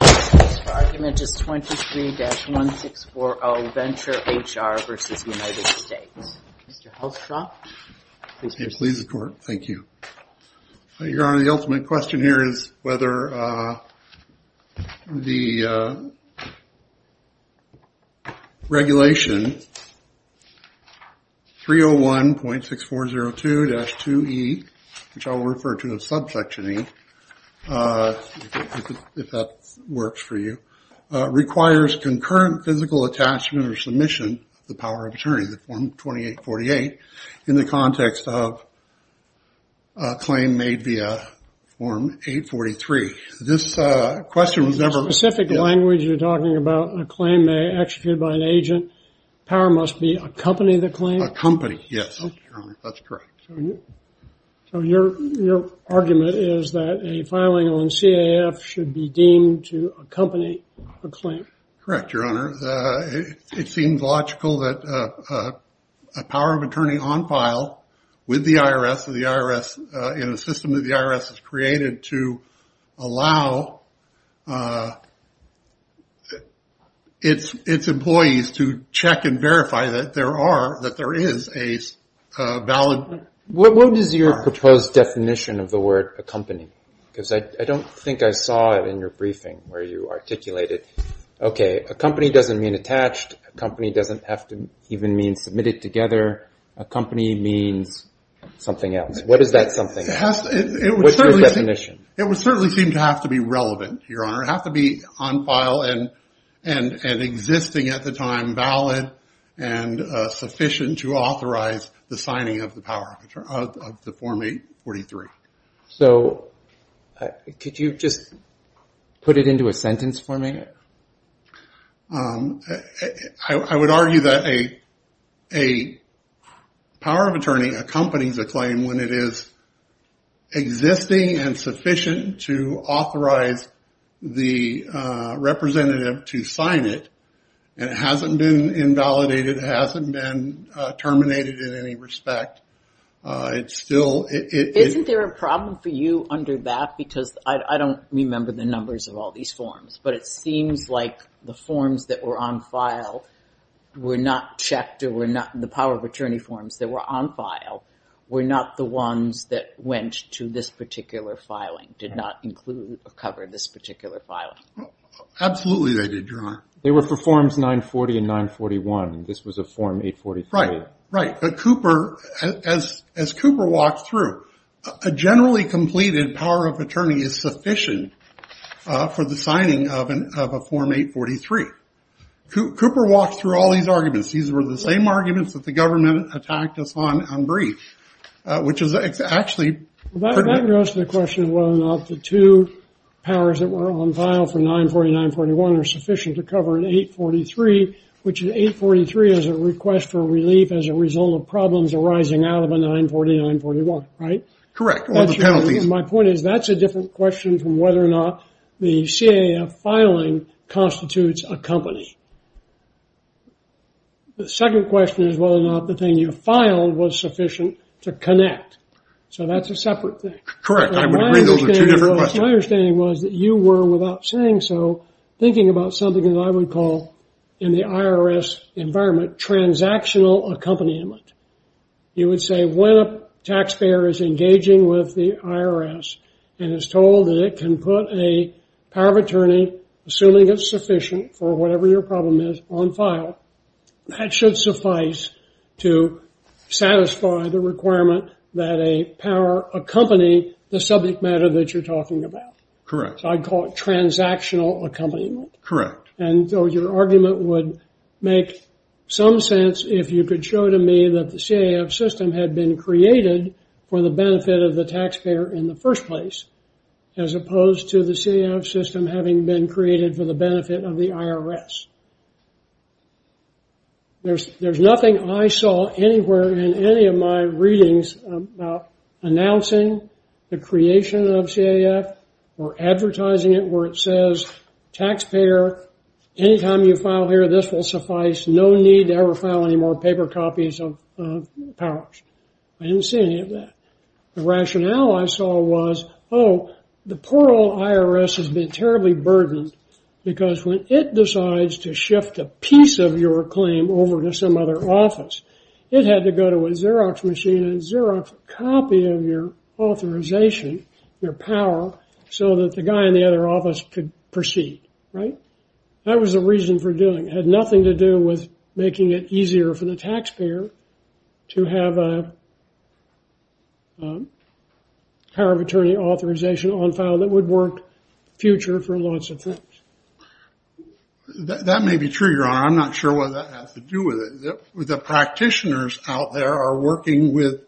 The argument is 23-1640, Venture HR v. United States. Mr. Hellstrop, please proceed. Please, the Court. Thank you. Your Honor, the ultimate question here is whether the regulation 301.6402-2E, which I will refer to as Subsection E, if that works for you, requires concurrent physical attachment or submission of the power of attorney, the Form 2848, in the context of a claim made via Form 843. This question was never… Is there a specific language you're talking about? A claim may be executed by an agent. The power must be to accompany the claim? Accompany, yes. That's correct. So your argument is that a filing on CAF should be deemed to accompany a claim? Correct, Your Honor. It seems logical that a power of attorney on file with the IRS or the IRS in a system that the IRS has created to allow its employees to check and verify that there is a valid… What is your proposed definition of the word accompany? Because I don't think I saw it in your briefing where you articulated, okay, accompany doesn't mean attached, accompany doesn't have to even mean submitted together. Accompany means something else. What is that something else? What's your definition? It would certainly seem to have to be relevant, Your Honor. It would have to be on file and existing at the time, valid and sufficient to authorize the signing of the power of attorney, of the Form 843. So could you just put it into a sentence for me? I would argue that a power of attorney accompanies a claim when it is existing and sufficient to authorize the representative to sign it and it hasn't been invalidated, hasn't been terminated in any respect. Isn't there a problem for you under that? Because I don't remember the numbers of all these forms, but it seems like the forms that were on file were not checked or were not the power of attorney forms that were on file were not the ones that went to this particular filing, did not include or cover this particular filing. Absolutely they did, Your Honor. They were for Forms 940 and 941. This was a Form 843. Right, right. But Cooper, as Cooper walked through, a generally completed power of attorney is sufficient for the signing of a Form 843. Cooper walked through all these arguments. These were the same arguments that the government attacked us on unbrief, which is actually pretty much... That goes to the question of whether or not the two powers that were on file for 940 and 941 are sufficient to cover an 843, which an 843 is a request for relief as a result of problems arising out of a 940 and 941, right? My point is that's a different question from whether or not the CAF filing constitutes a company. The second question is whether or not the thing you filed was sufficient to connect. So that's a separate thing. Correct. I would agree those are two different questions. My understanding was that you were, without saying so, thinking about something that I would call in the IRS environment transactional accompaniment. You would say when a taxpayer is engaging with the IRS and is told that it can put a power of attorney, assuming it's sufficient for whatever your problem is, on file, that should suffice to satisfy the requirement that a power accompany the subject matter that you're talking about. Correct. I'd call it transactional accompaniment. And so your argument would make some sense if you could show to me that the CAF system had been created for the benefit of the taxpayer in the first place, as opposed to the CAF system having been created for the benefit of the IRS. There's nothing I saw anywhere in any of my readings about announcing the creation of CAF or advertising it where it says, taxpayer, anytime you file here, this will suffice. No need to ever file any more paper copies of powers. I didn't see any of that. The rationale I saw was, oh, the poor old IRS has been terribly burdened because when it decides to shift a piece of your claim over to some other office, it had to go to a Xerox machine and Xerox a copy of your authorization, your power, so that the guy in the other office could proceed. Right? That was the reason for doing it. It had nothing to do with making it easier for the taxpayer to have a power of attorney authorization on file that would work future for lots of things. That may be true, Your Honor. I'm not sure what that has to do with it. The practitioners out there are working with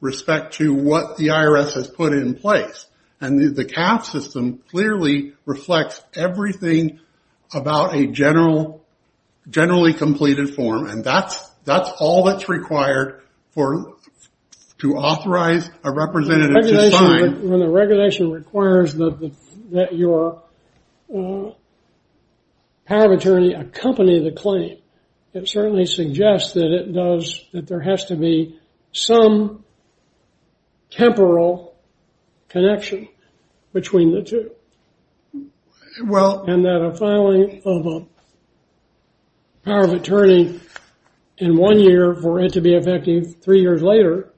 respect to what the IRS has put in place, and the CAF system clearly reflects everything about a generally completed form, and that's all that's required to authorize a representative to sign. When the regulation requires that your power of attorney accompany the claim, it certainly suggests that there has to be some temporal connection between the two, and that a filing of a power of attorney in one year for it to be effective three years later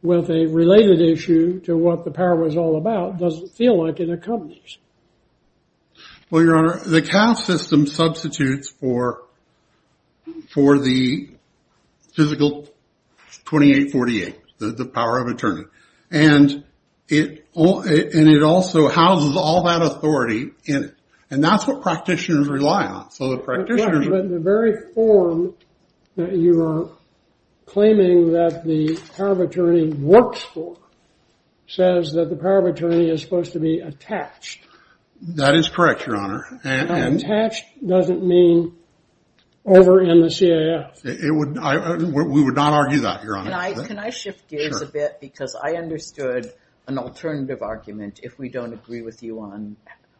with a related issue to what the power was all about doesn't feel like it accompanies. Well, Your Honor, the CAF system substitutes for the physical 2848, the power of attorney, and it also houses all that authority in it, and that's what practitioners rely on. So the practitioners... But the very form that you are claiming that the power of attorney works for says that the power of attorney is supposed to be attached. That is correct, Your Honor. Attached doesn't mean over in the CAF. We would not argue that, Your Honor. Can I shift gears a bit? Sure. Because I understood an alternative argument if we don't agree with you on...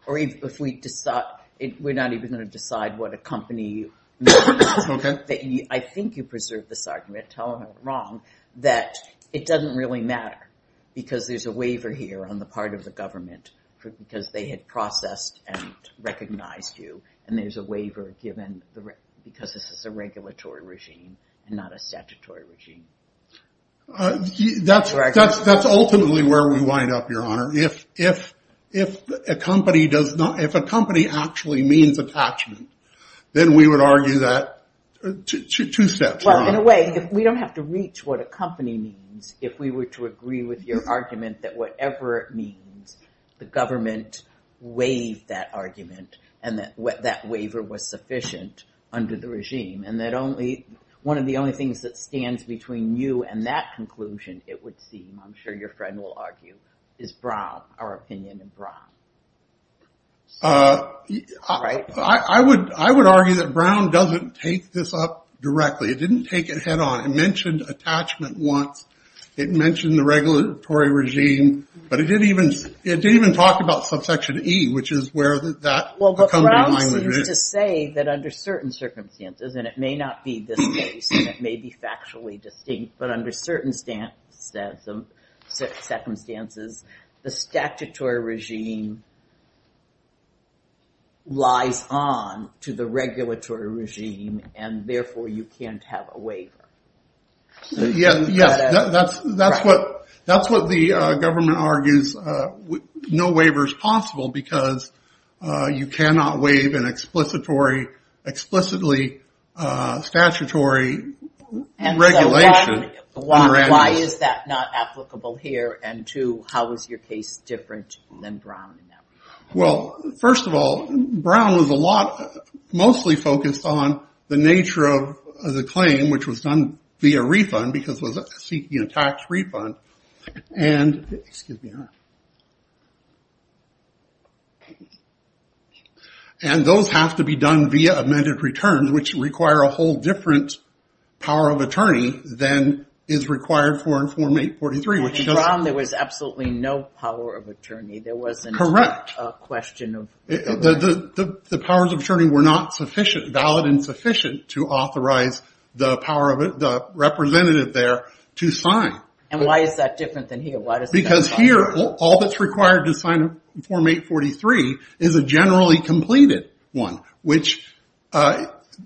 We're not even going to decide what a company... Okay. I think you preserved this argument, tell me if I'm wrong, that it doesn't really matter because there's a waiver here on the part of the government because they had processed and recognized you, and there's a waiver given because this is a regulatory regime and not a statutory regime. That's ultimately where we wind up, Your Honor. If a company actually means attachment, then we would argue that two steps wrong. Well, in a way, we don't have to reach what a company means if we were to agree with your argument that whatever it means, the government waived that argument, and that waiver was sufficient under the regime, and that one of the only things that stands between you and that conclusion, it would seem, I'm sure your friend will argue, is Braum, our opinion in Braum. Right. I would argue that Braum doesn't take this up directly. It didn't take it head on. It mentioned attachment once. It mentioned the regulatory regime, but it didn't even talk about subsection E, which is where that... Well, Braum seems to say that under certain circumstances, and it may not be this case, and it may be factually distinct, but under certain circumstances, the statutory regime lies on to the regulatory regime, and therefore you can't have a waiver. Yes, that's what the government argues. No waiver is possible because you cannot waive an explicitly statutory regulation. Why is that not applicable here, and two, how is your case different than Braum? Well, first of all, Braum was mostly focused on the nature of the claim, which was done via refund because it was seeking a tax refund, and those have to be done via amended returns, which require a whole different power of attorney than is required for Form 843. In Braum, there was absolutely no power of attorney. There wasn't a question of... The powers of attorney were not valid and sufficient to authorize the representative there to sign. And why is that different than here? Because here, all that's required to sign Form 843 is a generally completed one, which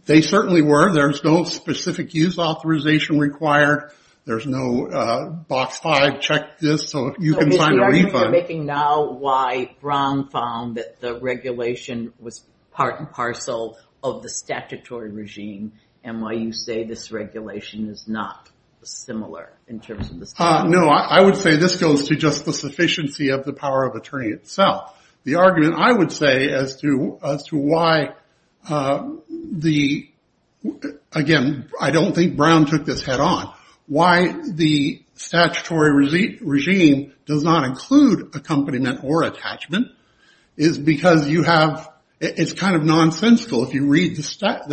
they certainly were. There's no specific use authorization required. There's no box five, check this, so you can sign a refund. So are you making now why Braum found that the regulation was part and parcel of the statutory regime, and why you say this regulation is not similar in terms of the... No, I would say this goes to just the sufficiency of the power of attorney itself. The argument I would say as to why the... Again, I don't think Braum took this head on. Why the statutory regime does not include accompaniment or attachment is because you have... It's kind of nonsensical if you read the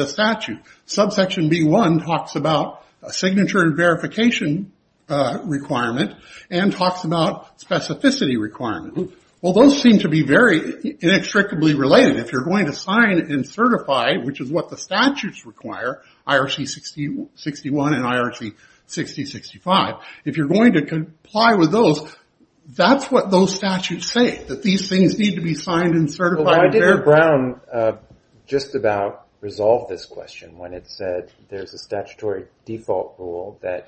statute. Subsection B1 talks about a signature and verification requirement and talks about specificity requirement. Well, those seem to be very inextricably related. If you're going to sign and certify, which is what the statutes require, IRC 6061 and IRC 6065, if you're going to comply with those, that's what those statutes say, that these things need to be signed and certified. Why did Braum just about resolve this question when it said there's a statutory default rule that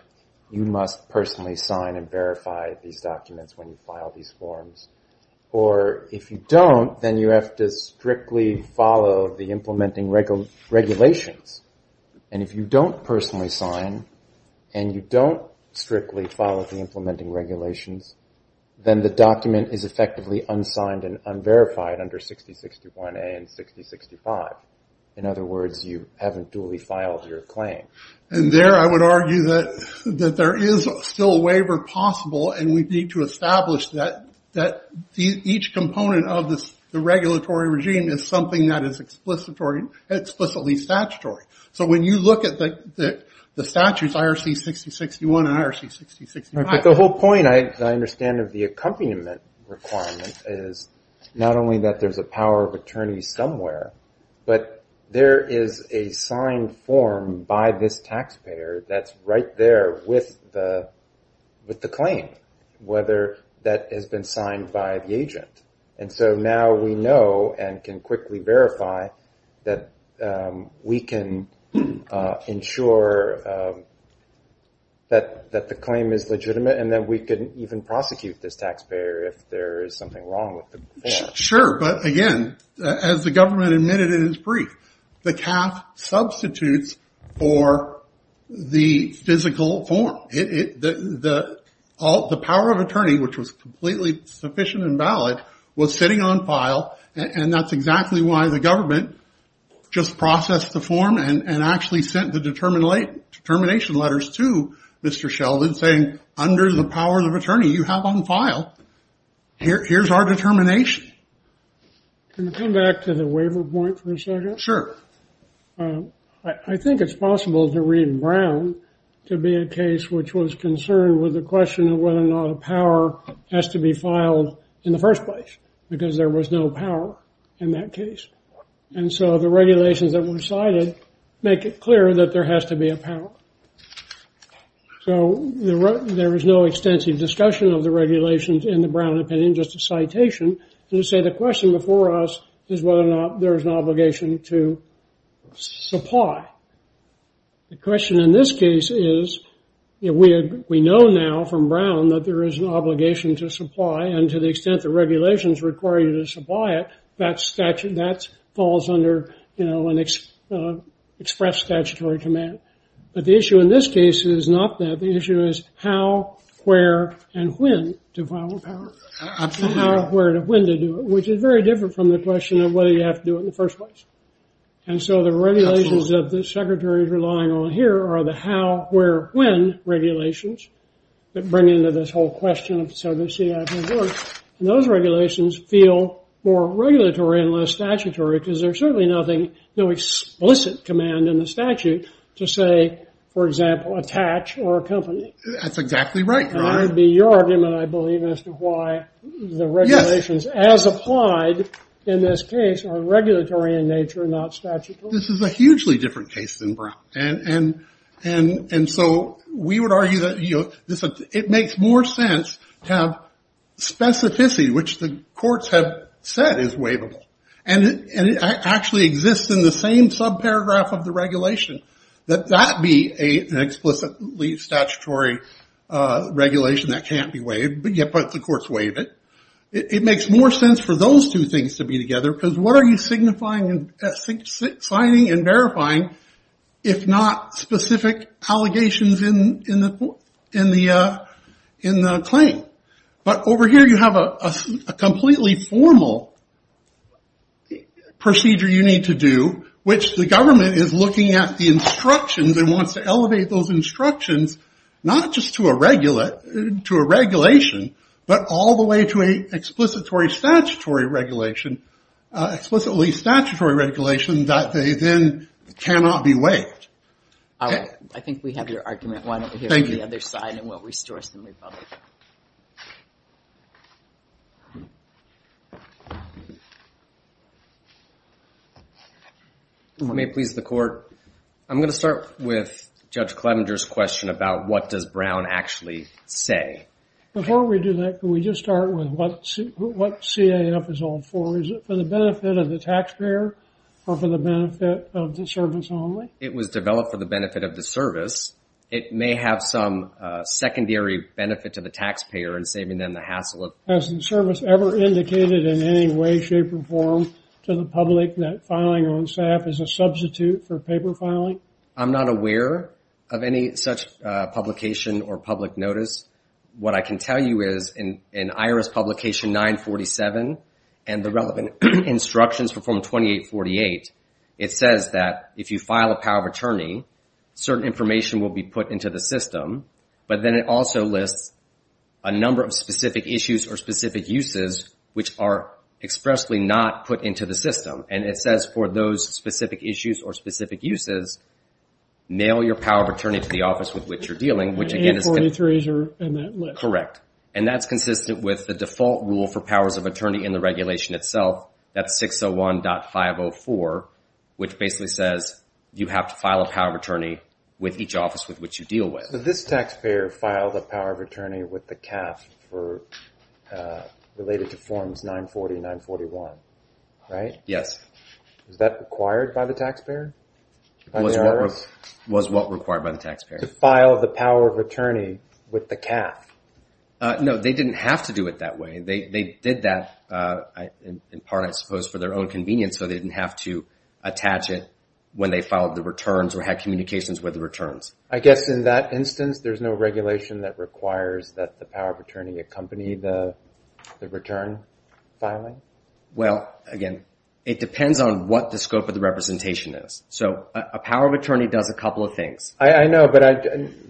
you must personally sign and verify these documents when you file these forms? Or if you don't, then you have to strictly follow the implementing regulations. And if you don't personally sign and you don't strictly follow the implementing regulations, then the document is effectively unsigned and unverified under 6061A and 6065. In other words, you haven't duly filed your claim. And there I would argue that there is still a waiver possible and we need to establish that each component of the regulatory regime is something that is explicitly statutory. So when you look at the statutes, IRC 6061 and IRC 6065... But the whole point, I understand, of the accompaniment requirement is not only that there's a power of attorney somewhere, but there is a signed form by this taxpayer that's right there with the claim, whether that has been signed by the agent. And so now we know and can quickly verify that we can ensure that the claim is legitimate and that we can even prosecute this taxpayer if there is something wrong with the form. Sure, but again, as the government admitted in its brief, the CAF substitutes for the physical form. The power of attorney, which was completely sufficient and valid, was sitting on file, and that's exactly why the government just processed the form and actually sent the determination letters to Mr. Sheldon saying, under the powers of attorney, you have on file. Here's our determination. Can I come back to the waiver point for a second? Sure. I think it's possible to read Brown to be a case which was concerned with the question of whether or not a power has to be filed in the first place because there was no power in that case. And so the regulations that were cited make it clear that there has to be a power. So there is no extensive discussion of the regulations in the Brown opinion, just a citation, to say the question before us is whether or not there is an obligation to supply. The question in this case is, we know now from Brown that there is an obligation to supply, and to the extent the regulations require you to supply it, that falls under an express statutory command. But the issue in this case is not that. Absolutely. Which is very different from the question of whether you have to do it in the first place. And so the regulations that the secretary is relying on here are the how, where, when regulations that bring into this whole question of the civil city. And those regulations feel more regulatory and less statutory because there's certainly no explicit command in the statute to say, for example, attach or accompany. That's exactly right. And that would be your argument, I believe, as to why the regulations as applied in this case are regulatory in nature and not statutory. This is a hugely different case than Brown. And so we would argue that it makes more sense to have specificity, which the courts have said is waivable. And it actually exists in the same subparagraph of the regulation, that that be an explicitly statutory regulation that can't be waived, but the courts waive it. It makes more sense for those two things to be together because what are you signifying and signing and verifying if not specific allegations in the claim? But over here you have a completely formal procedure you need to do, which the government is looking at the instructions and wants to elevate those instructions, not just to a regulation, but all the way to an explicitly statutory regulation that they then cannot be waived. I think we have your argument. Thank you. Let's go to the other side and what restores the republic. If it may please the court, I'm going to start with Judge Clevenger's question about what does Brown actually say. Before we do that, can we just start with what CAF is all for? Is it for the benefit of the taxpayer or for the benefit of the service only? It was developed for the benefit of the service. It may have some secondary benefit to the taxpayer in saving them the hassle. Has the service ever indicated in any way, shape, or form to the public that filing on CAF is a substitute for paper filing? I'm not aware of any such publication or public notice. What I can tell you is in IRS Publication 947 and the relevant instructions for Form 2848, it says that if you file a power of attorney, certain information will be put into the system. But then it also lists a number of specific issues or specific uses which are expressly not put into the system. And it says for those specific issues or specific uses, mail your power of attorney to the office with which you're dealing. And 43s are in that list. Correct. And that's consistent with the default rule for powers of attorney in the regulation itself. That's 601.504, which basically says you have to file a power of attorney with each office with which you deal with. But this taxpayer filed a power of attorney with the CAF related to Forms 940 and 941, right? Yes. Was that required by the taxpayer? Was what required by the taxpayer? To file the power of attorney with the CAF. No, they didn't have to do it that way. They did that in part, I suppose, for their own convenience. So they didn't have to attach it when they filed the returns or had communications with the returns. I guess in that instance, there's no regulation that requires that the power of attorney accompany the return filing? Well, again, it depends on what the scope of the representation is. So a power of attorney does a couple of things. I know, but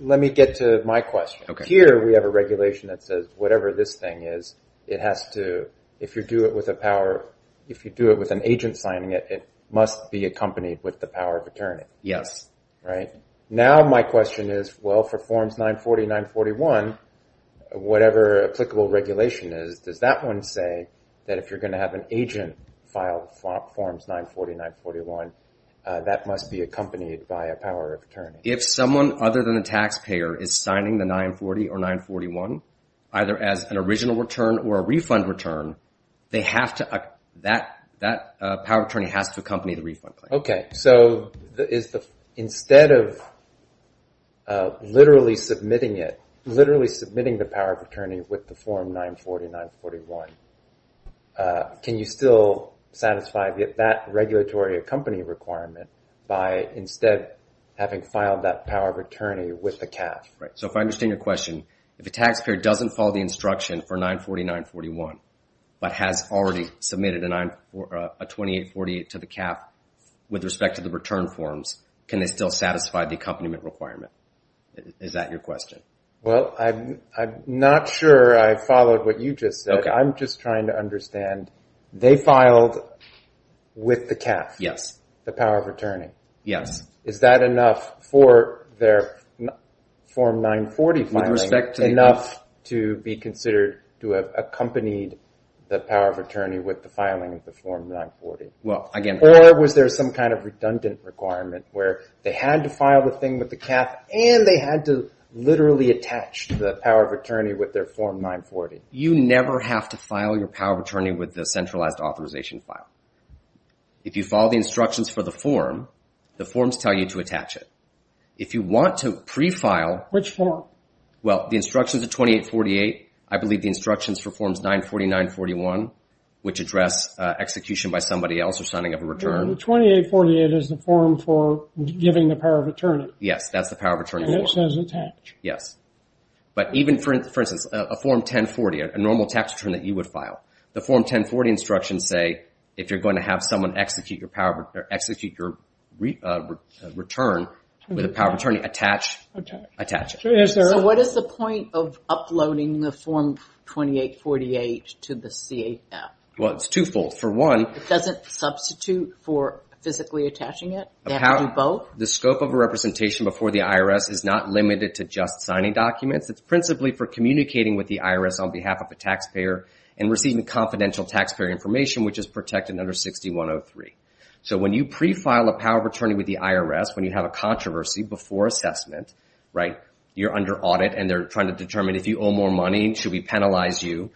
let me get to my question. Here we have a regulation that says whatever this thing is, it has to, if you do it with a power, if you do it with an agent signing it, it must be accompanied with the power of attorney. Yes. Right? Now my question is, well, for Forms 940 and 941, whatever applicable regulation is, does that one say that if you're going to have an agent file Forms 940 and 941, that must be accompanied by a power of attorney? If someone other than the taxpayer is signing the 940 or 941, either as an original return or a refund return, that power of attorney has to accompany the refund claim. So instead of literally submitting it, literally submitting the power of attorney with the Form 940 and 941, can you still satisfy that regulatory accompany requirement by instead having filed that power of attorney with the CAF? Right. So if I understand your question, if a taxpayer doesn't follow the instruction for 940 and 941, but has already submitted a 2848 to the CAF with respect to the return forms, can they still satisfy the accompaniment requirement? Is that your question? Well, I'm not sure I followed what you just said. I'm just trying to understand. They filed with the CAF? Yes. The power of attorney? Yes. Is that enough for their Form 940 filing enough to be considered to have accompanied the power of attorney with the filing of the Form 940? Or was there some kind of redundant requirement where they had to file the thing with the CAF and they had to literally attach the power of attorney with their Form 940? You never have to file your power of attorney with the centralized authorization file. If you follow the instructions for the form, the forms tell you to attach it. If you want to pre-file… Which form? Well, the instructions are 2848. I believe the instructions for Forms 940 and 941, which address execution by somebody else or signing of a return… No, the 2848 is the form for giving the power of attorney. Yes, that's the power of attorney form. And it says attach. Yes. But even, for instance, a Form 1040, a normal tax return that you would file, the Form 1040 instructions say if you're going to have someone execute your return with a power of attorney, attach it. So what is the point of uploading the Form 2848 to the CAF? Well, it's twofold. For one… It doesn't substitute for physically attaching it? They have to do both? The scope of a representation before the IRS is not limited to just signing documents. It's principally for communicating with the IRS on behalf of a taxpayer and receiving confidential taxpayer information, which is protected under 6103. So when you pre-file a power of attorney with the IRS, when you have a controversy before assessment, you're under audit, and they're trying to determine if you owe more money, should we penalize you,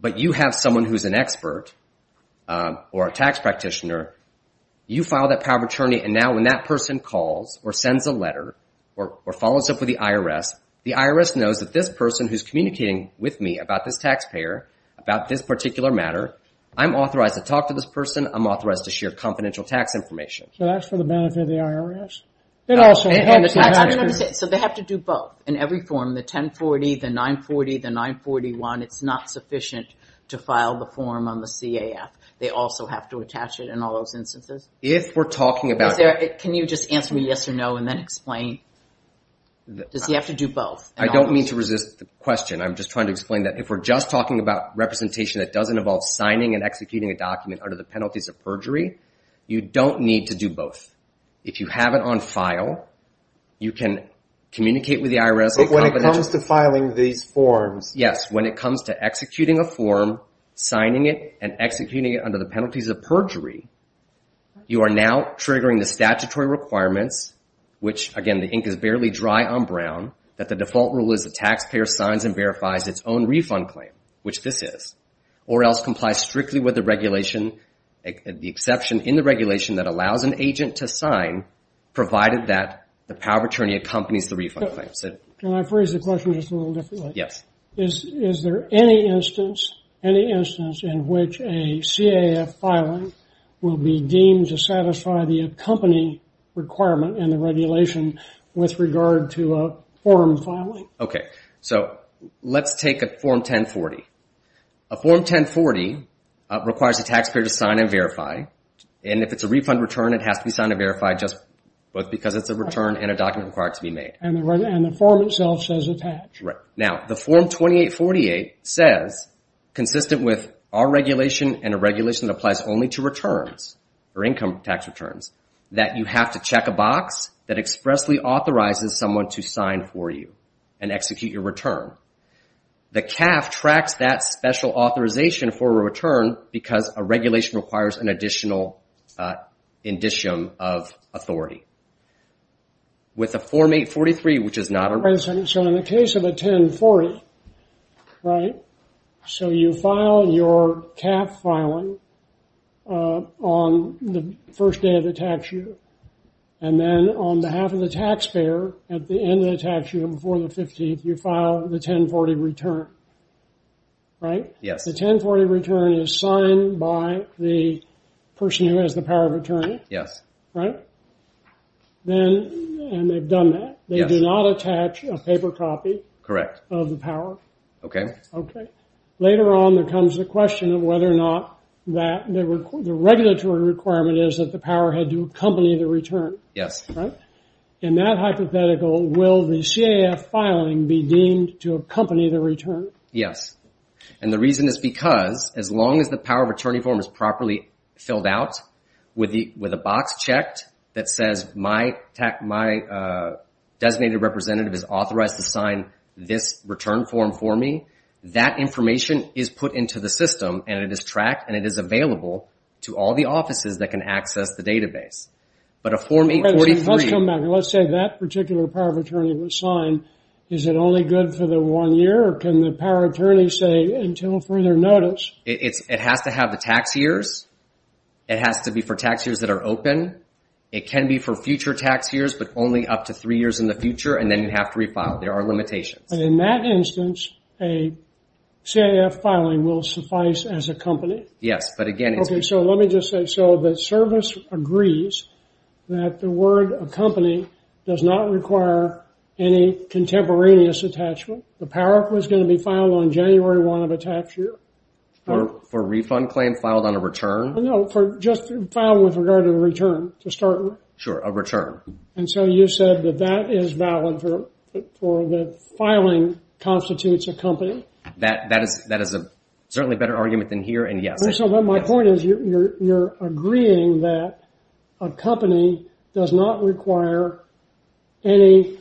but you have someone who's an expert or a tax practitioner, you file that power of attorney, and now when that person calls or sends a letter or follows up with the IRS, the IRS knows that this person who's communicating with me about this taxpayer, about this particular matter, I'm authorized to talk to this person, I'm authorized to share confidential tax information. So that's for the benefit of the IRS? No. So they have to do both in every form, the 1040, the 940, the 941. It's not sufficient to file the form on the CAF. They also have to attach it in all those instances? If we're talking about… Can you just answer me yes or no and then explain? Does he have to do both? I don't mean to resist the question. I'm just trying to explain that if we're just talking about representation that doesn't involve signing and executing a document under the penalties of perjury, you don't need to do both. If you have it on file, you can communicate with the IRS… But when it comes to filing these forms… Yes, when it comes to executing a form, signing it, and executing it under the penalties of perjury, you are now triggering the statutory requirements, which, again, the ink is barely dry on brown, that the default rule is the taxpayer signs and verifies its own refund claim, which this is, or else complies strictly with the exception in the regulation that allows an agent to sign, provided that the power of attorney accompanies the refund claim. Can I phrase the question just a little differently? Yes. Is there any instance in which a CAF filing will be deemed to satisfy the accompanying requirement in the regulation with regard to a form filing? Okay. So let's take a Form 1040. A Form 1040 requires the taxpayer to sign and verify, and if it's a refund return, it has to be signed and verified just because it's a return and a document required to be made. And the form itself says attached. Right. Now, the Form 2848 says, consistent with our regulation and a regulation that applies only to returns, or income tax returns, that you have to check a box that expressly authorizes someone to sign for you and execute your return. The CAF tracks that special authorization for a return because a regulation requires an additional indicium of authority. With a Form 843, which is not a... So in the case of a 1040, right, so you file your CAF filing on the first day of the tax year, and then on behalf of the taxpayer at the end of the tax year, before the 15th, you file the 1040 return. Right? Yes. The 1040 return is signed by the person who has the power of attorney. Yes. Right? And they've done that. They do not attach a paper copy... ...of the power. Okay. Okay. And then later on, there comes the question of whether or not the regulatory requirement is that the power had to accompany the return. Yes. Right? In that hypothetical, will the CAF filing be deemed to accompany the return? Yes. And the reason is because, as long as the power of attorney form is properly filled out, with a box checked that says, my designated representative is authorized to sign this return form for me, that information is put into the system, and it is tracked, and it is available to all the offices that can access the database. But a Form 843... Okay. Let's come back. Let's say that particular power of attorney was signed. Is it only good for the one year, or can the power of attorney say, until further notice... It has to have the tax years. It has to be for tax years that are open. It can be for future tax years, but only up to three years in the future, and then you have to refile. There are limitations. But in that instance, a CAF filing will suffice as a company? Yes, but again... Okay, so let me just say, so the service agrees that the word accompany does not require any contemporaneous attachment. The power of attorney is going to be filed on January 1 of a tax year. For a refund claim filed on a return? No, just filed with regard to the return, to start with. Sure, a return. And so you said that that is valid for the filing constitutes a company? That is certainly a better argument than here, and yes. So my point is, you're agreeing that accompany does not require any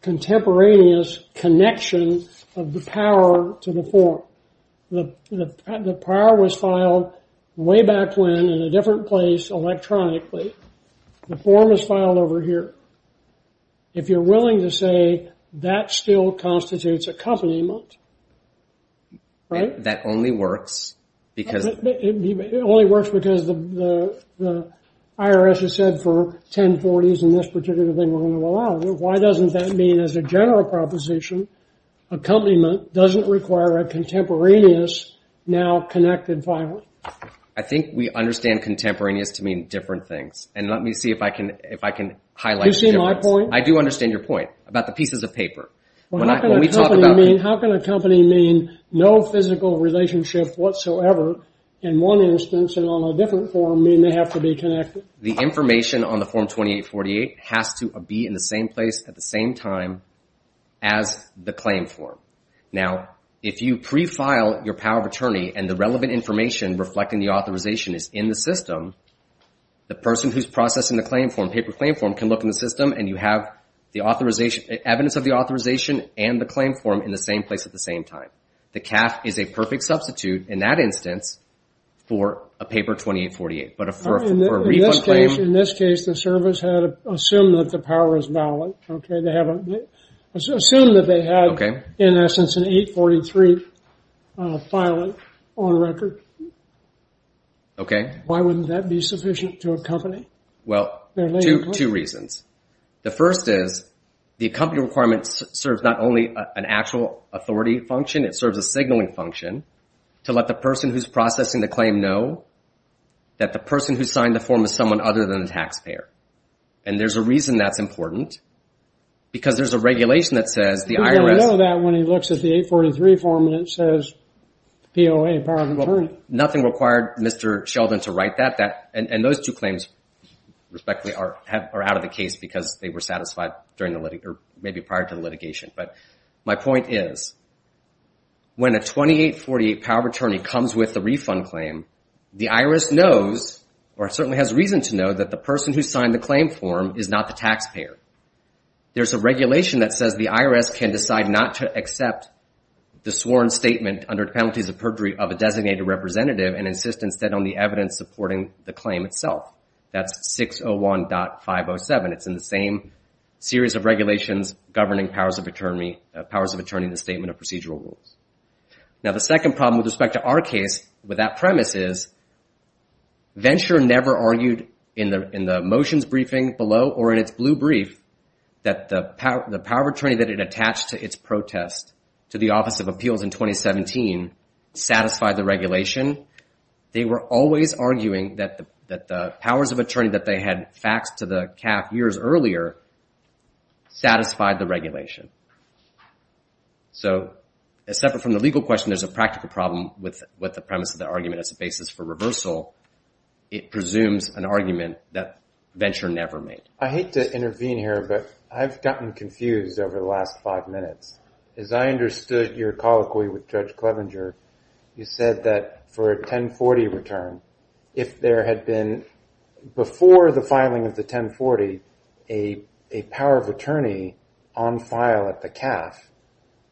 contemporaneous connection of the power to the form. The power was filed way back when in a different place electronically. The form is filed over here. If you're willing to say that still constitutes accompaniment, right? That only works because... It only works because the IRS has said for 1040s and this particular thing we're going to allow. Why doesn't that mean as a general proposition accompaniment doesn't require a contemporaneous now connected filing? I think we understand contemporaneous to mean different things. And let me see if I can highlight... Do you see my point? I do understand your point about the pieces of paper. When we talk about... How can accompany mean no physical relationship whatsoever in one instance and on a different form mean they have to be connected? The information on the Form 2848 has to be in the same place at the same time as the claim form. Now, if you prefile your power of attorney and the relevant information reflecting the authorization is in the system, the person who's processing the claim form, can look in the system and you have evidence of the authorization and the claim form in the same place at the same time. The CAF is a perfect substitute in that instance for a Paper 2848. But for a refund claim... In this case, the service had assumed that the power is valid. Assumed that they had, in essence, an 843 filing on record. Why wouldn't that be sufficient to accompany Well, two reasons. The first is the accompanying requirement serves not only an actual authority function, it serves a signaling function to let the person who's processing the claim know that the person who signed the form is someone other than the taxpayer. And there's a reason that's important because there's a regulation that says the IRS... Who's going to know that when he looks at the 843 form and it says POA, power of attorney? Nothing required Mr. Sheldon to write that. And those two claims, respectfully, are out of the case because they were satisfied during the litigation, or maybe prior to the litigation. But my point is, when a 2848 power of attorney comes with a refund claim, the IRS knows, or certainly has reason to know, that the person who signed the claim form is not the taxpayer. There's a regulation that says the IRS can decide not to accept the sworn statement under penalties of perjury of a designated representative and insist instead on the evidence supporting the claim itself. That's 601.507. It's in the same series of regulations governing powers of attorney in the Statement of Procedural Rules. Now the second problem with respect to our case with that premise is Venture never argued in the motions briefing below or in its blue brief that the power of attorney that it attached to its protest to the Office of Appeals in 2017 satisfied the regulation. They were always arguing that the powers of attorney that they had faxed to the CAF years earlier satisfied the regulation. So, separate from the legal question, there's a practical problem with the premise of the argument as a basis for reversal. It presumes an argument that Venture never made. I hate to intervene here, but I've gotten confused over the last five minutes. As I understood your colloquy with Judge Clevenger, you said that for a 1040 return, if there had been, before the filing of the 1040, a power of attorney on file at the CAF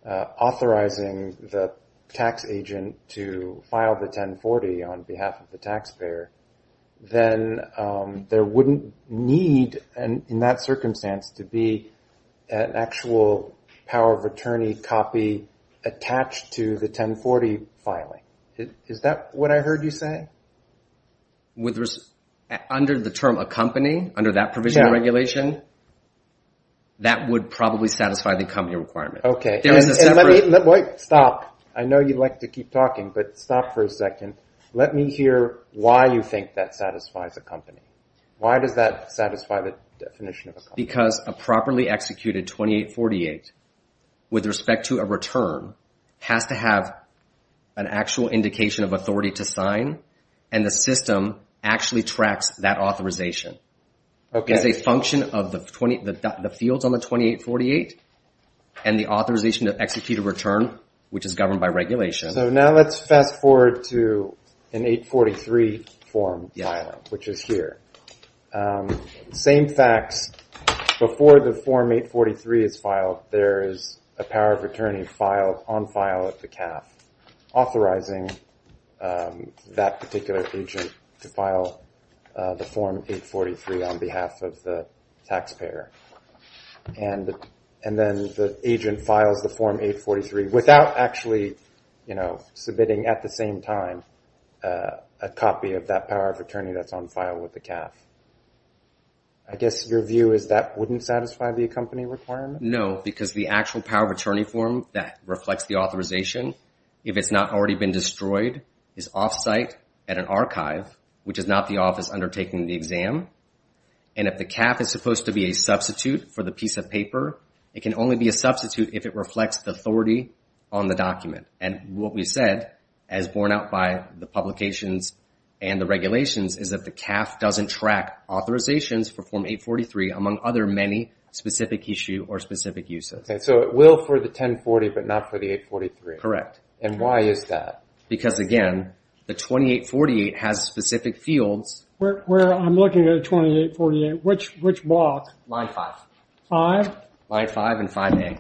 authorizing the tax agent to file the 1040 on behalf of the taxpayer, then there wouldn't need, in that circumstance, to be an actual power of attorney copy attached to the 1040 filing. Is that what I heard you say? Under the term a company, under that provision of regulation, that would probably satisfy the company requirement. Stop. I know you'd like to keep talking, but stop for a second. Let me hear why you think that satisfies a company. Why does that satisfy the definition of a company? Because a properly executed 2848 with respect to a return has to have an actual indication of authority to sign, and the system actually tracks that authorization. It's a function of the fields on the 2848 and the authorization to execute a return, which is governed by regulation. Now let's fast forward to an 843 form file, which is here. Same facts before the form 843 is filed. There is a power of attorney on file at the CAF authorizing that particular agent to file the form 843 on behalf of the taxpayer. And then the agent files the form 843 without actually submitting at the same time a copy of that power of attorney that's on file with the CAF. I guess your view is that wouldn't satisfy the company requirement? No, because the actual power of attorney form that reflects the authorization, if it's not already been destroyed, is off-site at an archive, which is not the office undertaking the exam. And if the CAF is supposed to be a substitute for the piece of paper, it can only be a substitute if it reflects the authority on the document. And what we said, as borne out by the publications and the regulations, is that the CAF doesn't track authorizations for form 843, among other many specific issues or specific uses. So it will for the 1040, but not for the 843? Correct. And why is that? Because, again, the 2848 has specific fields. I'm looking at a 2848. Which block? Line 5. 5? Line 5 and 5A.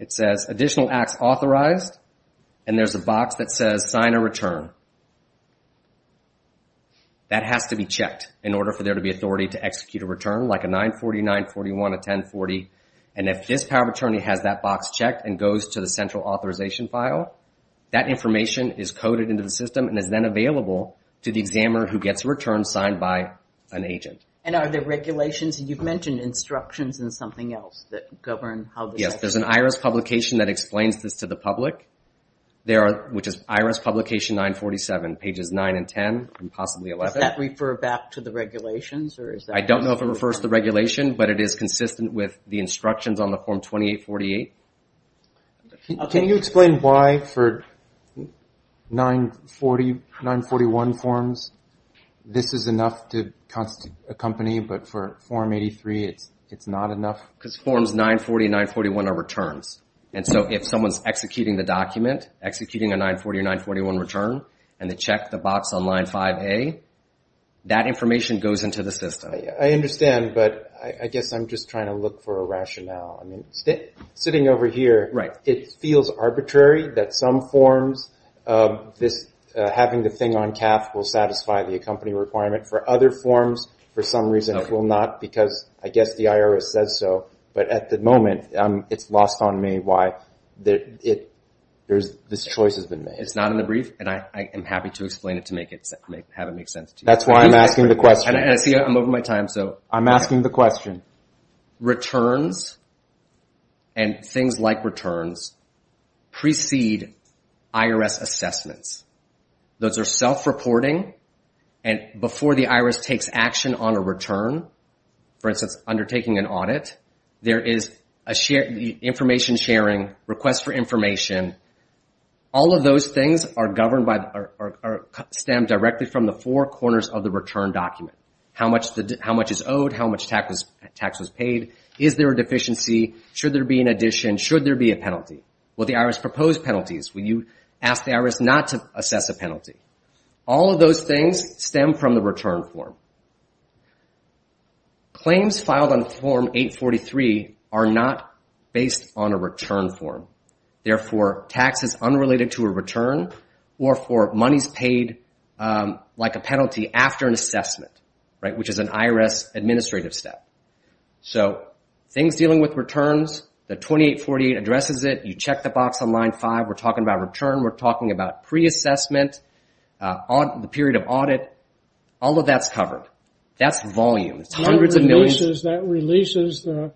It says, Additional Acts Authorized. And there's a box that says, Sign or Return. That has to be checked in order for there to be authority to execute a return, like a 940, 941, a 1040. And if this power of attorney has that box checked and goes to the central authorization file, that information is coded into the system and is then available to the examiner who gets a return signed by an agent. And are there regulations? You've mentioned instructions and something else that govern how the... Yes. There's an IRS publication that explains this to the public. There are... 947, pages 9 and 10, and possibly 11. Does that refer back to the regulations? I don't know if it refers to the regulation, but it is consistent with the instructions on the Form 2848. Can you explain why for 940, 941 forms, this is enough to accompany, but for Form 83, it's not enough? Because Forms 940 and 941 are returns. And so if someone's executing the document, executing a 940 or 941 return, and they check the box on line 5A, that information goes into the system. I understand, but I guess I'm just trying to look for a rationale. Sitting over here, it feels arbitrary that some forms, having the thing on cap will satisfy the accompanying requirement. For other forms, for some reason, it will not because I guess the IRS says so. But at the moment, it's lost on me why this choice has been made. It's not in the brief, and I am happy to explain it to have it make sense to you. That's why I'm asking the question. And I see I'm over my time, so... I'm asking the question. Returns and things like returns precede IRS assessments. Those are self-reporting, and before the IRS takes action on a return, for instance, undertaking an audit, there is information sharing, request for information. All of those things are stemmed directly from the four corners of the return document. How much is owed? How much tax was paid? Is there a deficiency? Should there be an addition? Should there be a penalty? Will the IRS propose penalties? Will you ask the IRS not to assess a penalty? All of those things stem from the return form. Claims filed on Form 843 are not based on a return form. Therefore, tax is unrelated to a return or for monies paid like a penalty after an assessment, which is an IRS administrative step. So, things dealing with returns, the 2848 addresses it. You check the box on line 5. We're talking about return. We're talking about pre-assessment, the period of audit. All of that's covered. That's volume. It's hundreds of millions. That releases the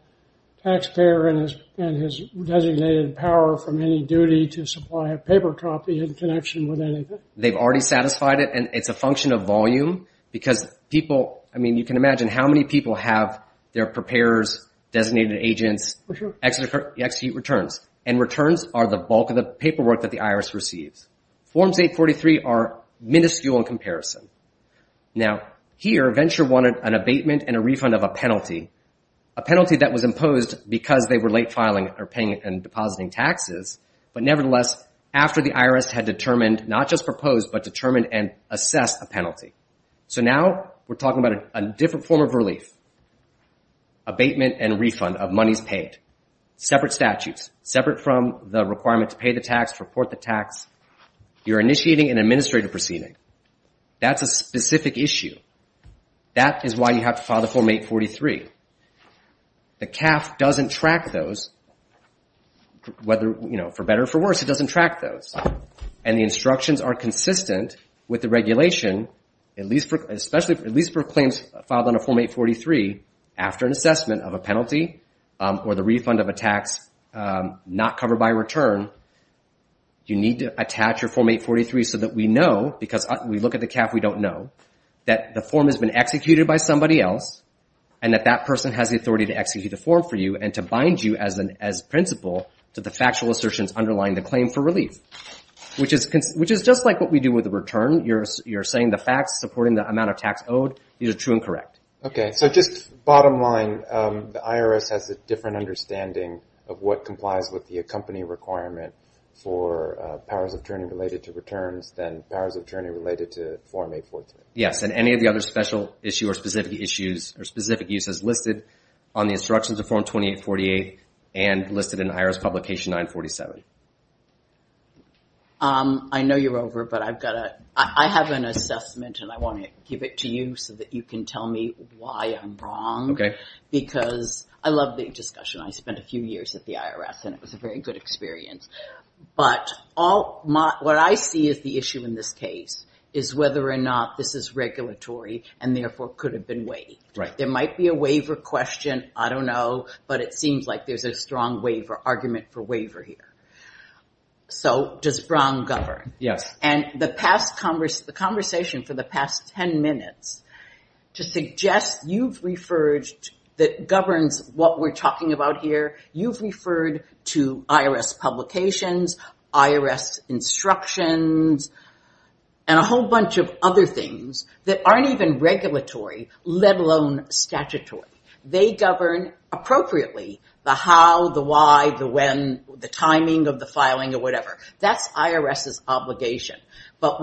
taxpayer and his designated power from any duty to supply a paper copy in connection with anything. They've already satisfied it, and it's a function of volume because people, I mean, you can imagine how many people have their preparers, designated agents, execute returns. And returns are the bulk of the paperwork that the IRS receives. Forms 843 are miniscule in comparison. Now, here, Venture wanted an abatement and a refund of a penalty, a penalty that was imposed because they were late filing or paying and depositing taxes, but nevertheless, after the IRS had determined, not just proposed, but determined and assessed a penalty. So now, we're talking about a different form of relief, abatement and refund of monies paid. Separate statutes, separate from the requirement to pay the tax, report the tax. You're initiating an administrative proceeding. That's a specific issue. That is why you have to file the Form 843. The CAF doesn't track those, whether, you know, for better or for worse, it doesn't track those. And the instructions are consistent with the regulation, at least for claims filed under Form 843, after an assessment of a penalty or the refund of a tax not covered by a return. You need to attach your Form 843 so that we know because we look at the CAF, we don't know, that the form has been executed by somebody else and that that person has the authority to execute the form for you and to bind you as principle to the factual assertions underlying the claim for relief, which is just like what we do with the return. You're saying the facts supporting the amount of tax owed is true and correct. Okay. So just bottom line, the IRS has a different understanding of what complies with the company requirement for powers of attorney related to returns than powers of attorney related to Form 843. Yes, and any of the other special issue or specific issues or specific uses listed on the instructions of Form 2848 and listed in IRS Publication 947. I know you're over, but I have an assessment and I want to give it to you so that you can tell me why I'm wrong. Okay. Because I love the discussion. I spent a few years at the IRS and it was a very good experience. But what I see as the issue in this case is whether or not this is regulatory and therefore could have been waived. There might be a waiver question. I don't know, but it seems like there's a strong argument for waiver here. So does Brown govern? Yes. And the conversation for the past 10 minutes to suggest you've referred that governs what we're talking about here, you've referred to IRS publications, IRS instructions, and a whole bunch of other things that aren't even regulatory, let alone statutory. They govern appropriately the how, the why, the when, the timing of the filing or whatever. That's IRS's obligation. But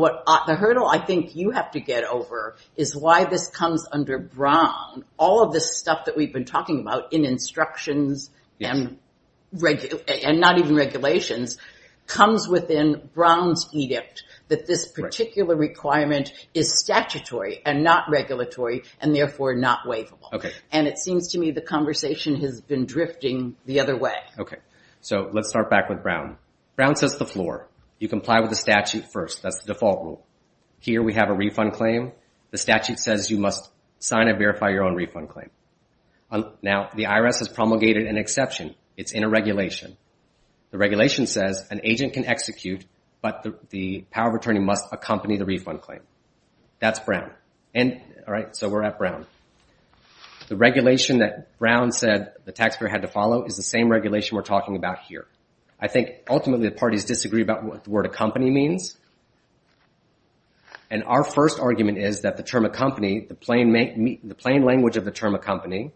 the hurdle I think you have to get over is why this comes under Brown. All of this stuff that we've been talking about in instructions and not even regulations comes within Brown's edict that this particular requirement is statutory and not regulatory and therefore not waivable. And it seems to me the conversation has been drifting the other way. Okay. So let's start back with Brown. Brown says the floor. You comply with the statute first. That's the default rule. Here we have a refund claim. The statute says you must sign and verify your own refund claim. Now the IRS has promulgated an exception. It's in a regulation. The regulation says an agent can execute but the power of attorney must accompany the refund claim. That's Brown. All right. So we're at Brown. The regulation that Brown said the taxpayer had to follow is the same regulation we're talking about here. I think ultimately the parties disagree about what the word accompany means. And our first argument is that the term accompany, the plain language of the term accompany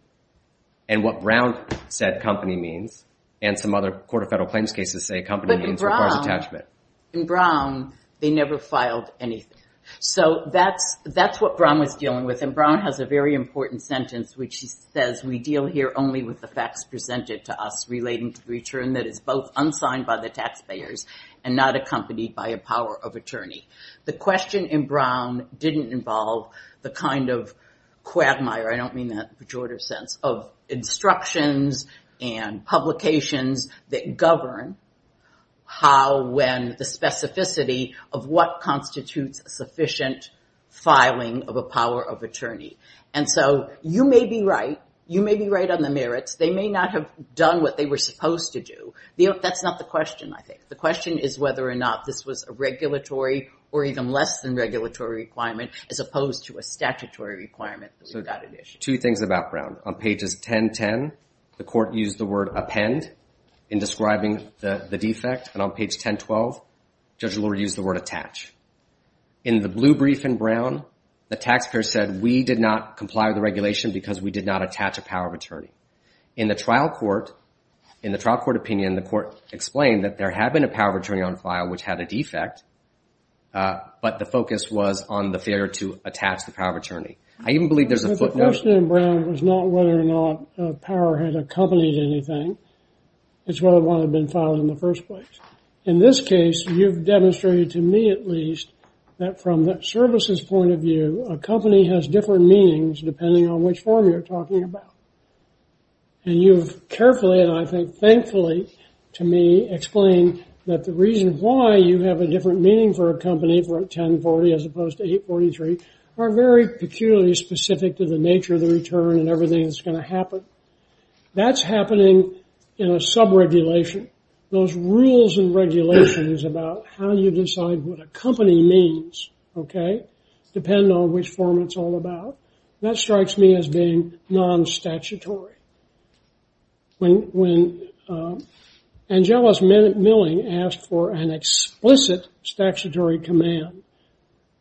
and what Brown said company means and some other court of federal claims cases say company means requires attachment. they never filed anything. So that's what Brown was dealing with and Brown has a very important sentence which says we deal here only with the facts presented to us relating to the return that is both unsigned by the taxpayers and not accompanied by a power of attorney. The question in Brown didn't involve the kind of quagmire, I don't mean that in a pejorative sense, of instructions and publications that govern how, when, the specificity of what constitutes sufficient filing of a power of attorney. And so you may be right. You may be right on the merits. They may not have done what they were supposed to do. That's not the question, I think. The question is whether or not this was a regulatory or even less than regulatory requirement as opposed to a statutory requirement that we got it issued. Two things about Brown. On pages 10-10, the court used the word append in describing the defect and on page 10-12, Judge Lord used the word attach. In the blue brief in Brown, the taxpayer said we did not comply with the regulation because we did not attach a power of attorney. In the trial court, in the trial court opinion, the court explained that there had been a power of attorney on file which had a defect, but the focus was on the failure to attach the power of attorney. I even believe there's a footnote... The question in Brown was not whether or not power had accompanied anything. It's whether one had been filed in the first place. In this case, you've demonstrated to me at least that from the services point of view, a company has different meanings depending on which form you're talking about. And you've carefully and I think thankfully to me, explained that the reason why you have a different meaning for a company for a 1040 as opposed to 843 are very peculiarly specific to the nature of the return and everything that's going to happen. That's happening in a sub-regulation. Those rules and regulations about how you decide what a company means, okay, depend on which form it's all about. That strikes me as being non-statutory. When Angelos Milling asked for an explicit statutory command,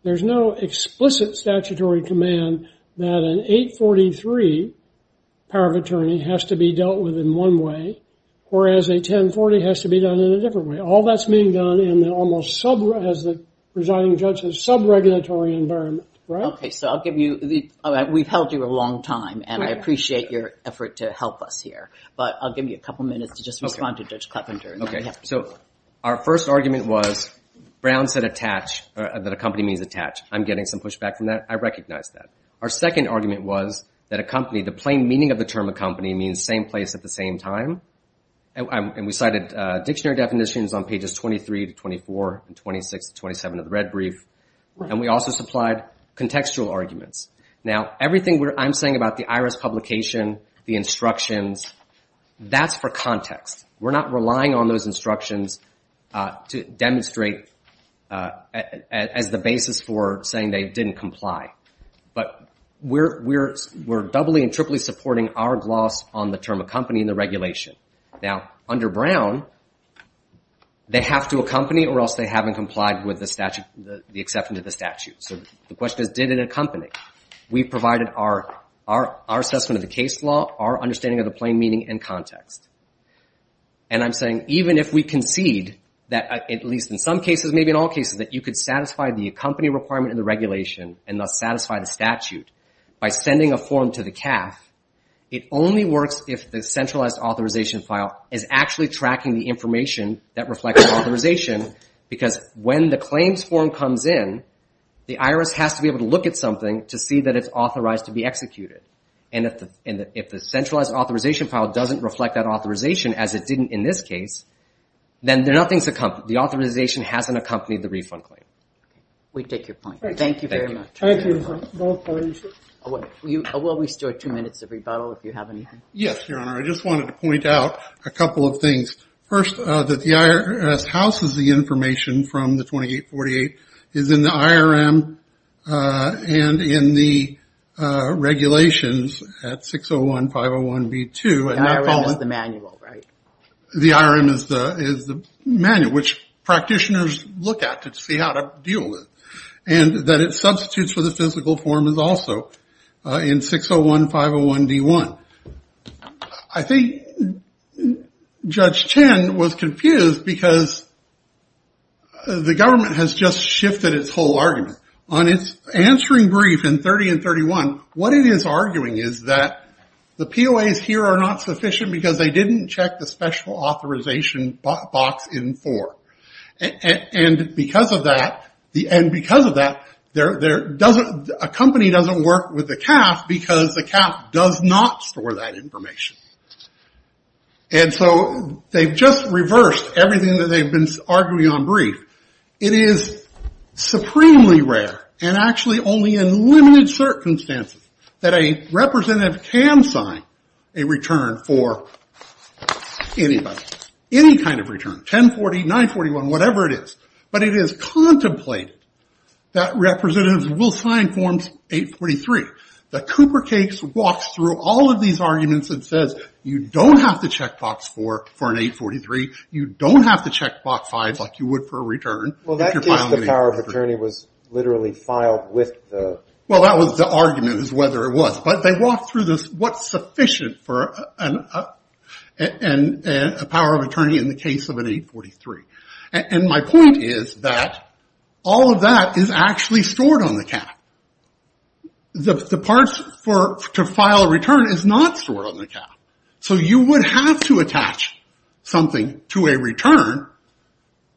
there's no explicit statutory command that an 840 power of attorney has to be dealt with in one way whereas a 1040 has to be done in a different way. All that's being done in the almost sub- as the presiding judge said, sub-regulatory environment. Right? Okay, so I'll give you the, we've held you a long time and I appreciate your effort to help us here but I'll give you a couple minutes to just respond to Judge Clevenger. Okay, so our first argument was Brown said attach that a company means attach. I'm getting some pushback from that. I recognize that. Our second argument was that a company, the plain meaning of the term accompany means same place at the same time and we cited dictionary definitions on pages 23 to 24 and 26 to 27 of the red brief and we also supplied contextual arguments. Now, everything I'm saying about the IRS publication, the instructions, that's for context. We're not relying on those instructions to demonstrate as the basis for saying they didn't comply but we're doubly and triply supporting our gloss on the term accompany in the regulation. Now, under Brown, they have to accompany or else they haven't complied with the statute, the exception to the statute. So the question is did it accompany? We provided our assessment of the case law, our understanding of the plain meaning and context and I'm saying even if we concede that at least in some cases, maybe in all cases, that you could satisfy the accompany requirement in the regulation and thus satisfy the statute by sending a form to the CAF, it only works if the centralized authorization file is actually tracking the information that reflects the authorization because when the claims form comes in, the IRS has to be able to look at something to see that it's authorized to be executed and if the centralized authorization file doesn't reflect that authorization as it didn't in this case, then the authorization hasn't accompanied the refund claim. We take your point. Thank you very much. Thank you. Will we still have two minutes of rebuttal if you have anything? Yes, Your Honor. I just wanted to point out a couple of things. First, that the IRS houses the information from the 2848 is in the IRM and in the regulations at 601-501-B2. The IRM is the manual, right? The IRM is the manual which practitioners look at to see how to deal with and that it substitutes for the physical form is also in 601-501-B1. I think Judge Chen was confused because the government has just shifted its whole argument. On its answering brief in 30 and 31, what it is arguing is that the POAs here are not sufficient because they didn't check the special authorization box in four and because of that, a company doesn't work with the CAF because the CAF does not store that information. And so they've just reversed everything that they've been arguing on brief. It is supremely rare and actually only in limited circumstances that a representative can sign a return for anybody. Any kind of return. 1040, 941, whatever it is. But it is contemplated that representatives will sign forms 843. The Cooper case walks through all of these arguments and says you don't have to check box four for an 843. You don't have to check box five like you would for a return. Well, that case the POA was literally filed with the Well, that was the argument is whether it was. But they walked through this what's sufficient for a POA in the case of an 843. And my point is that all of that is actually stored on the The parts to file a return is not stored on the cap. So you would have to something to a return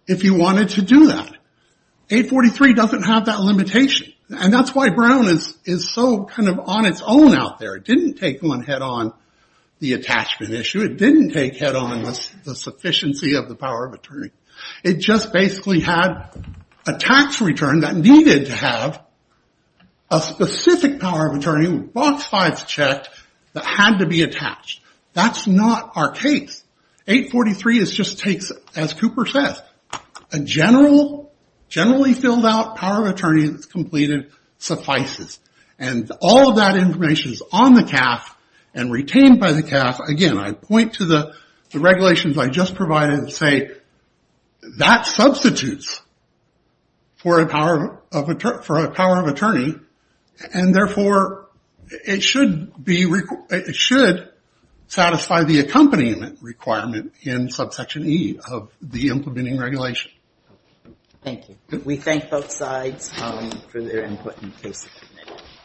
if you wanted to do that. 843 doesn't have that limitation. And that's why Brown is so kind of on its own out there. It didn't take one head on the attachment issue. It didn't take head on the sufficiency of the POA. It just basically had a tax return that needed to have a specific POA that had to be attached. That's not our case. 843 just takes as Cooper says a generally filled out POA that's completed suffices. And all of that information is on the CAF and retained by the CAF. Again, I point to the regulations I just provided and say that substitutes for a POA. And therefore, it should satisfy the accompaniment requirement in subsection E of the implementing regulation. Thank you. We thank both sides for their input.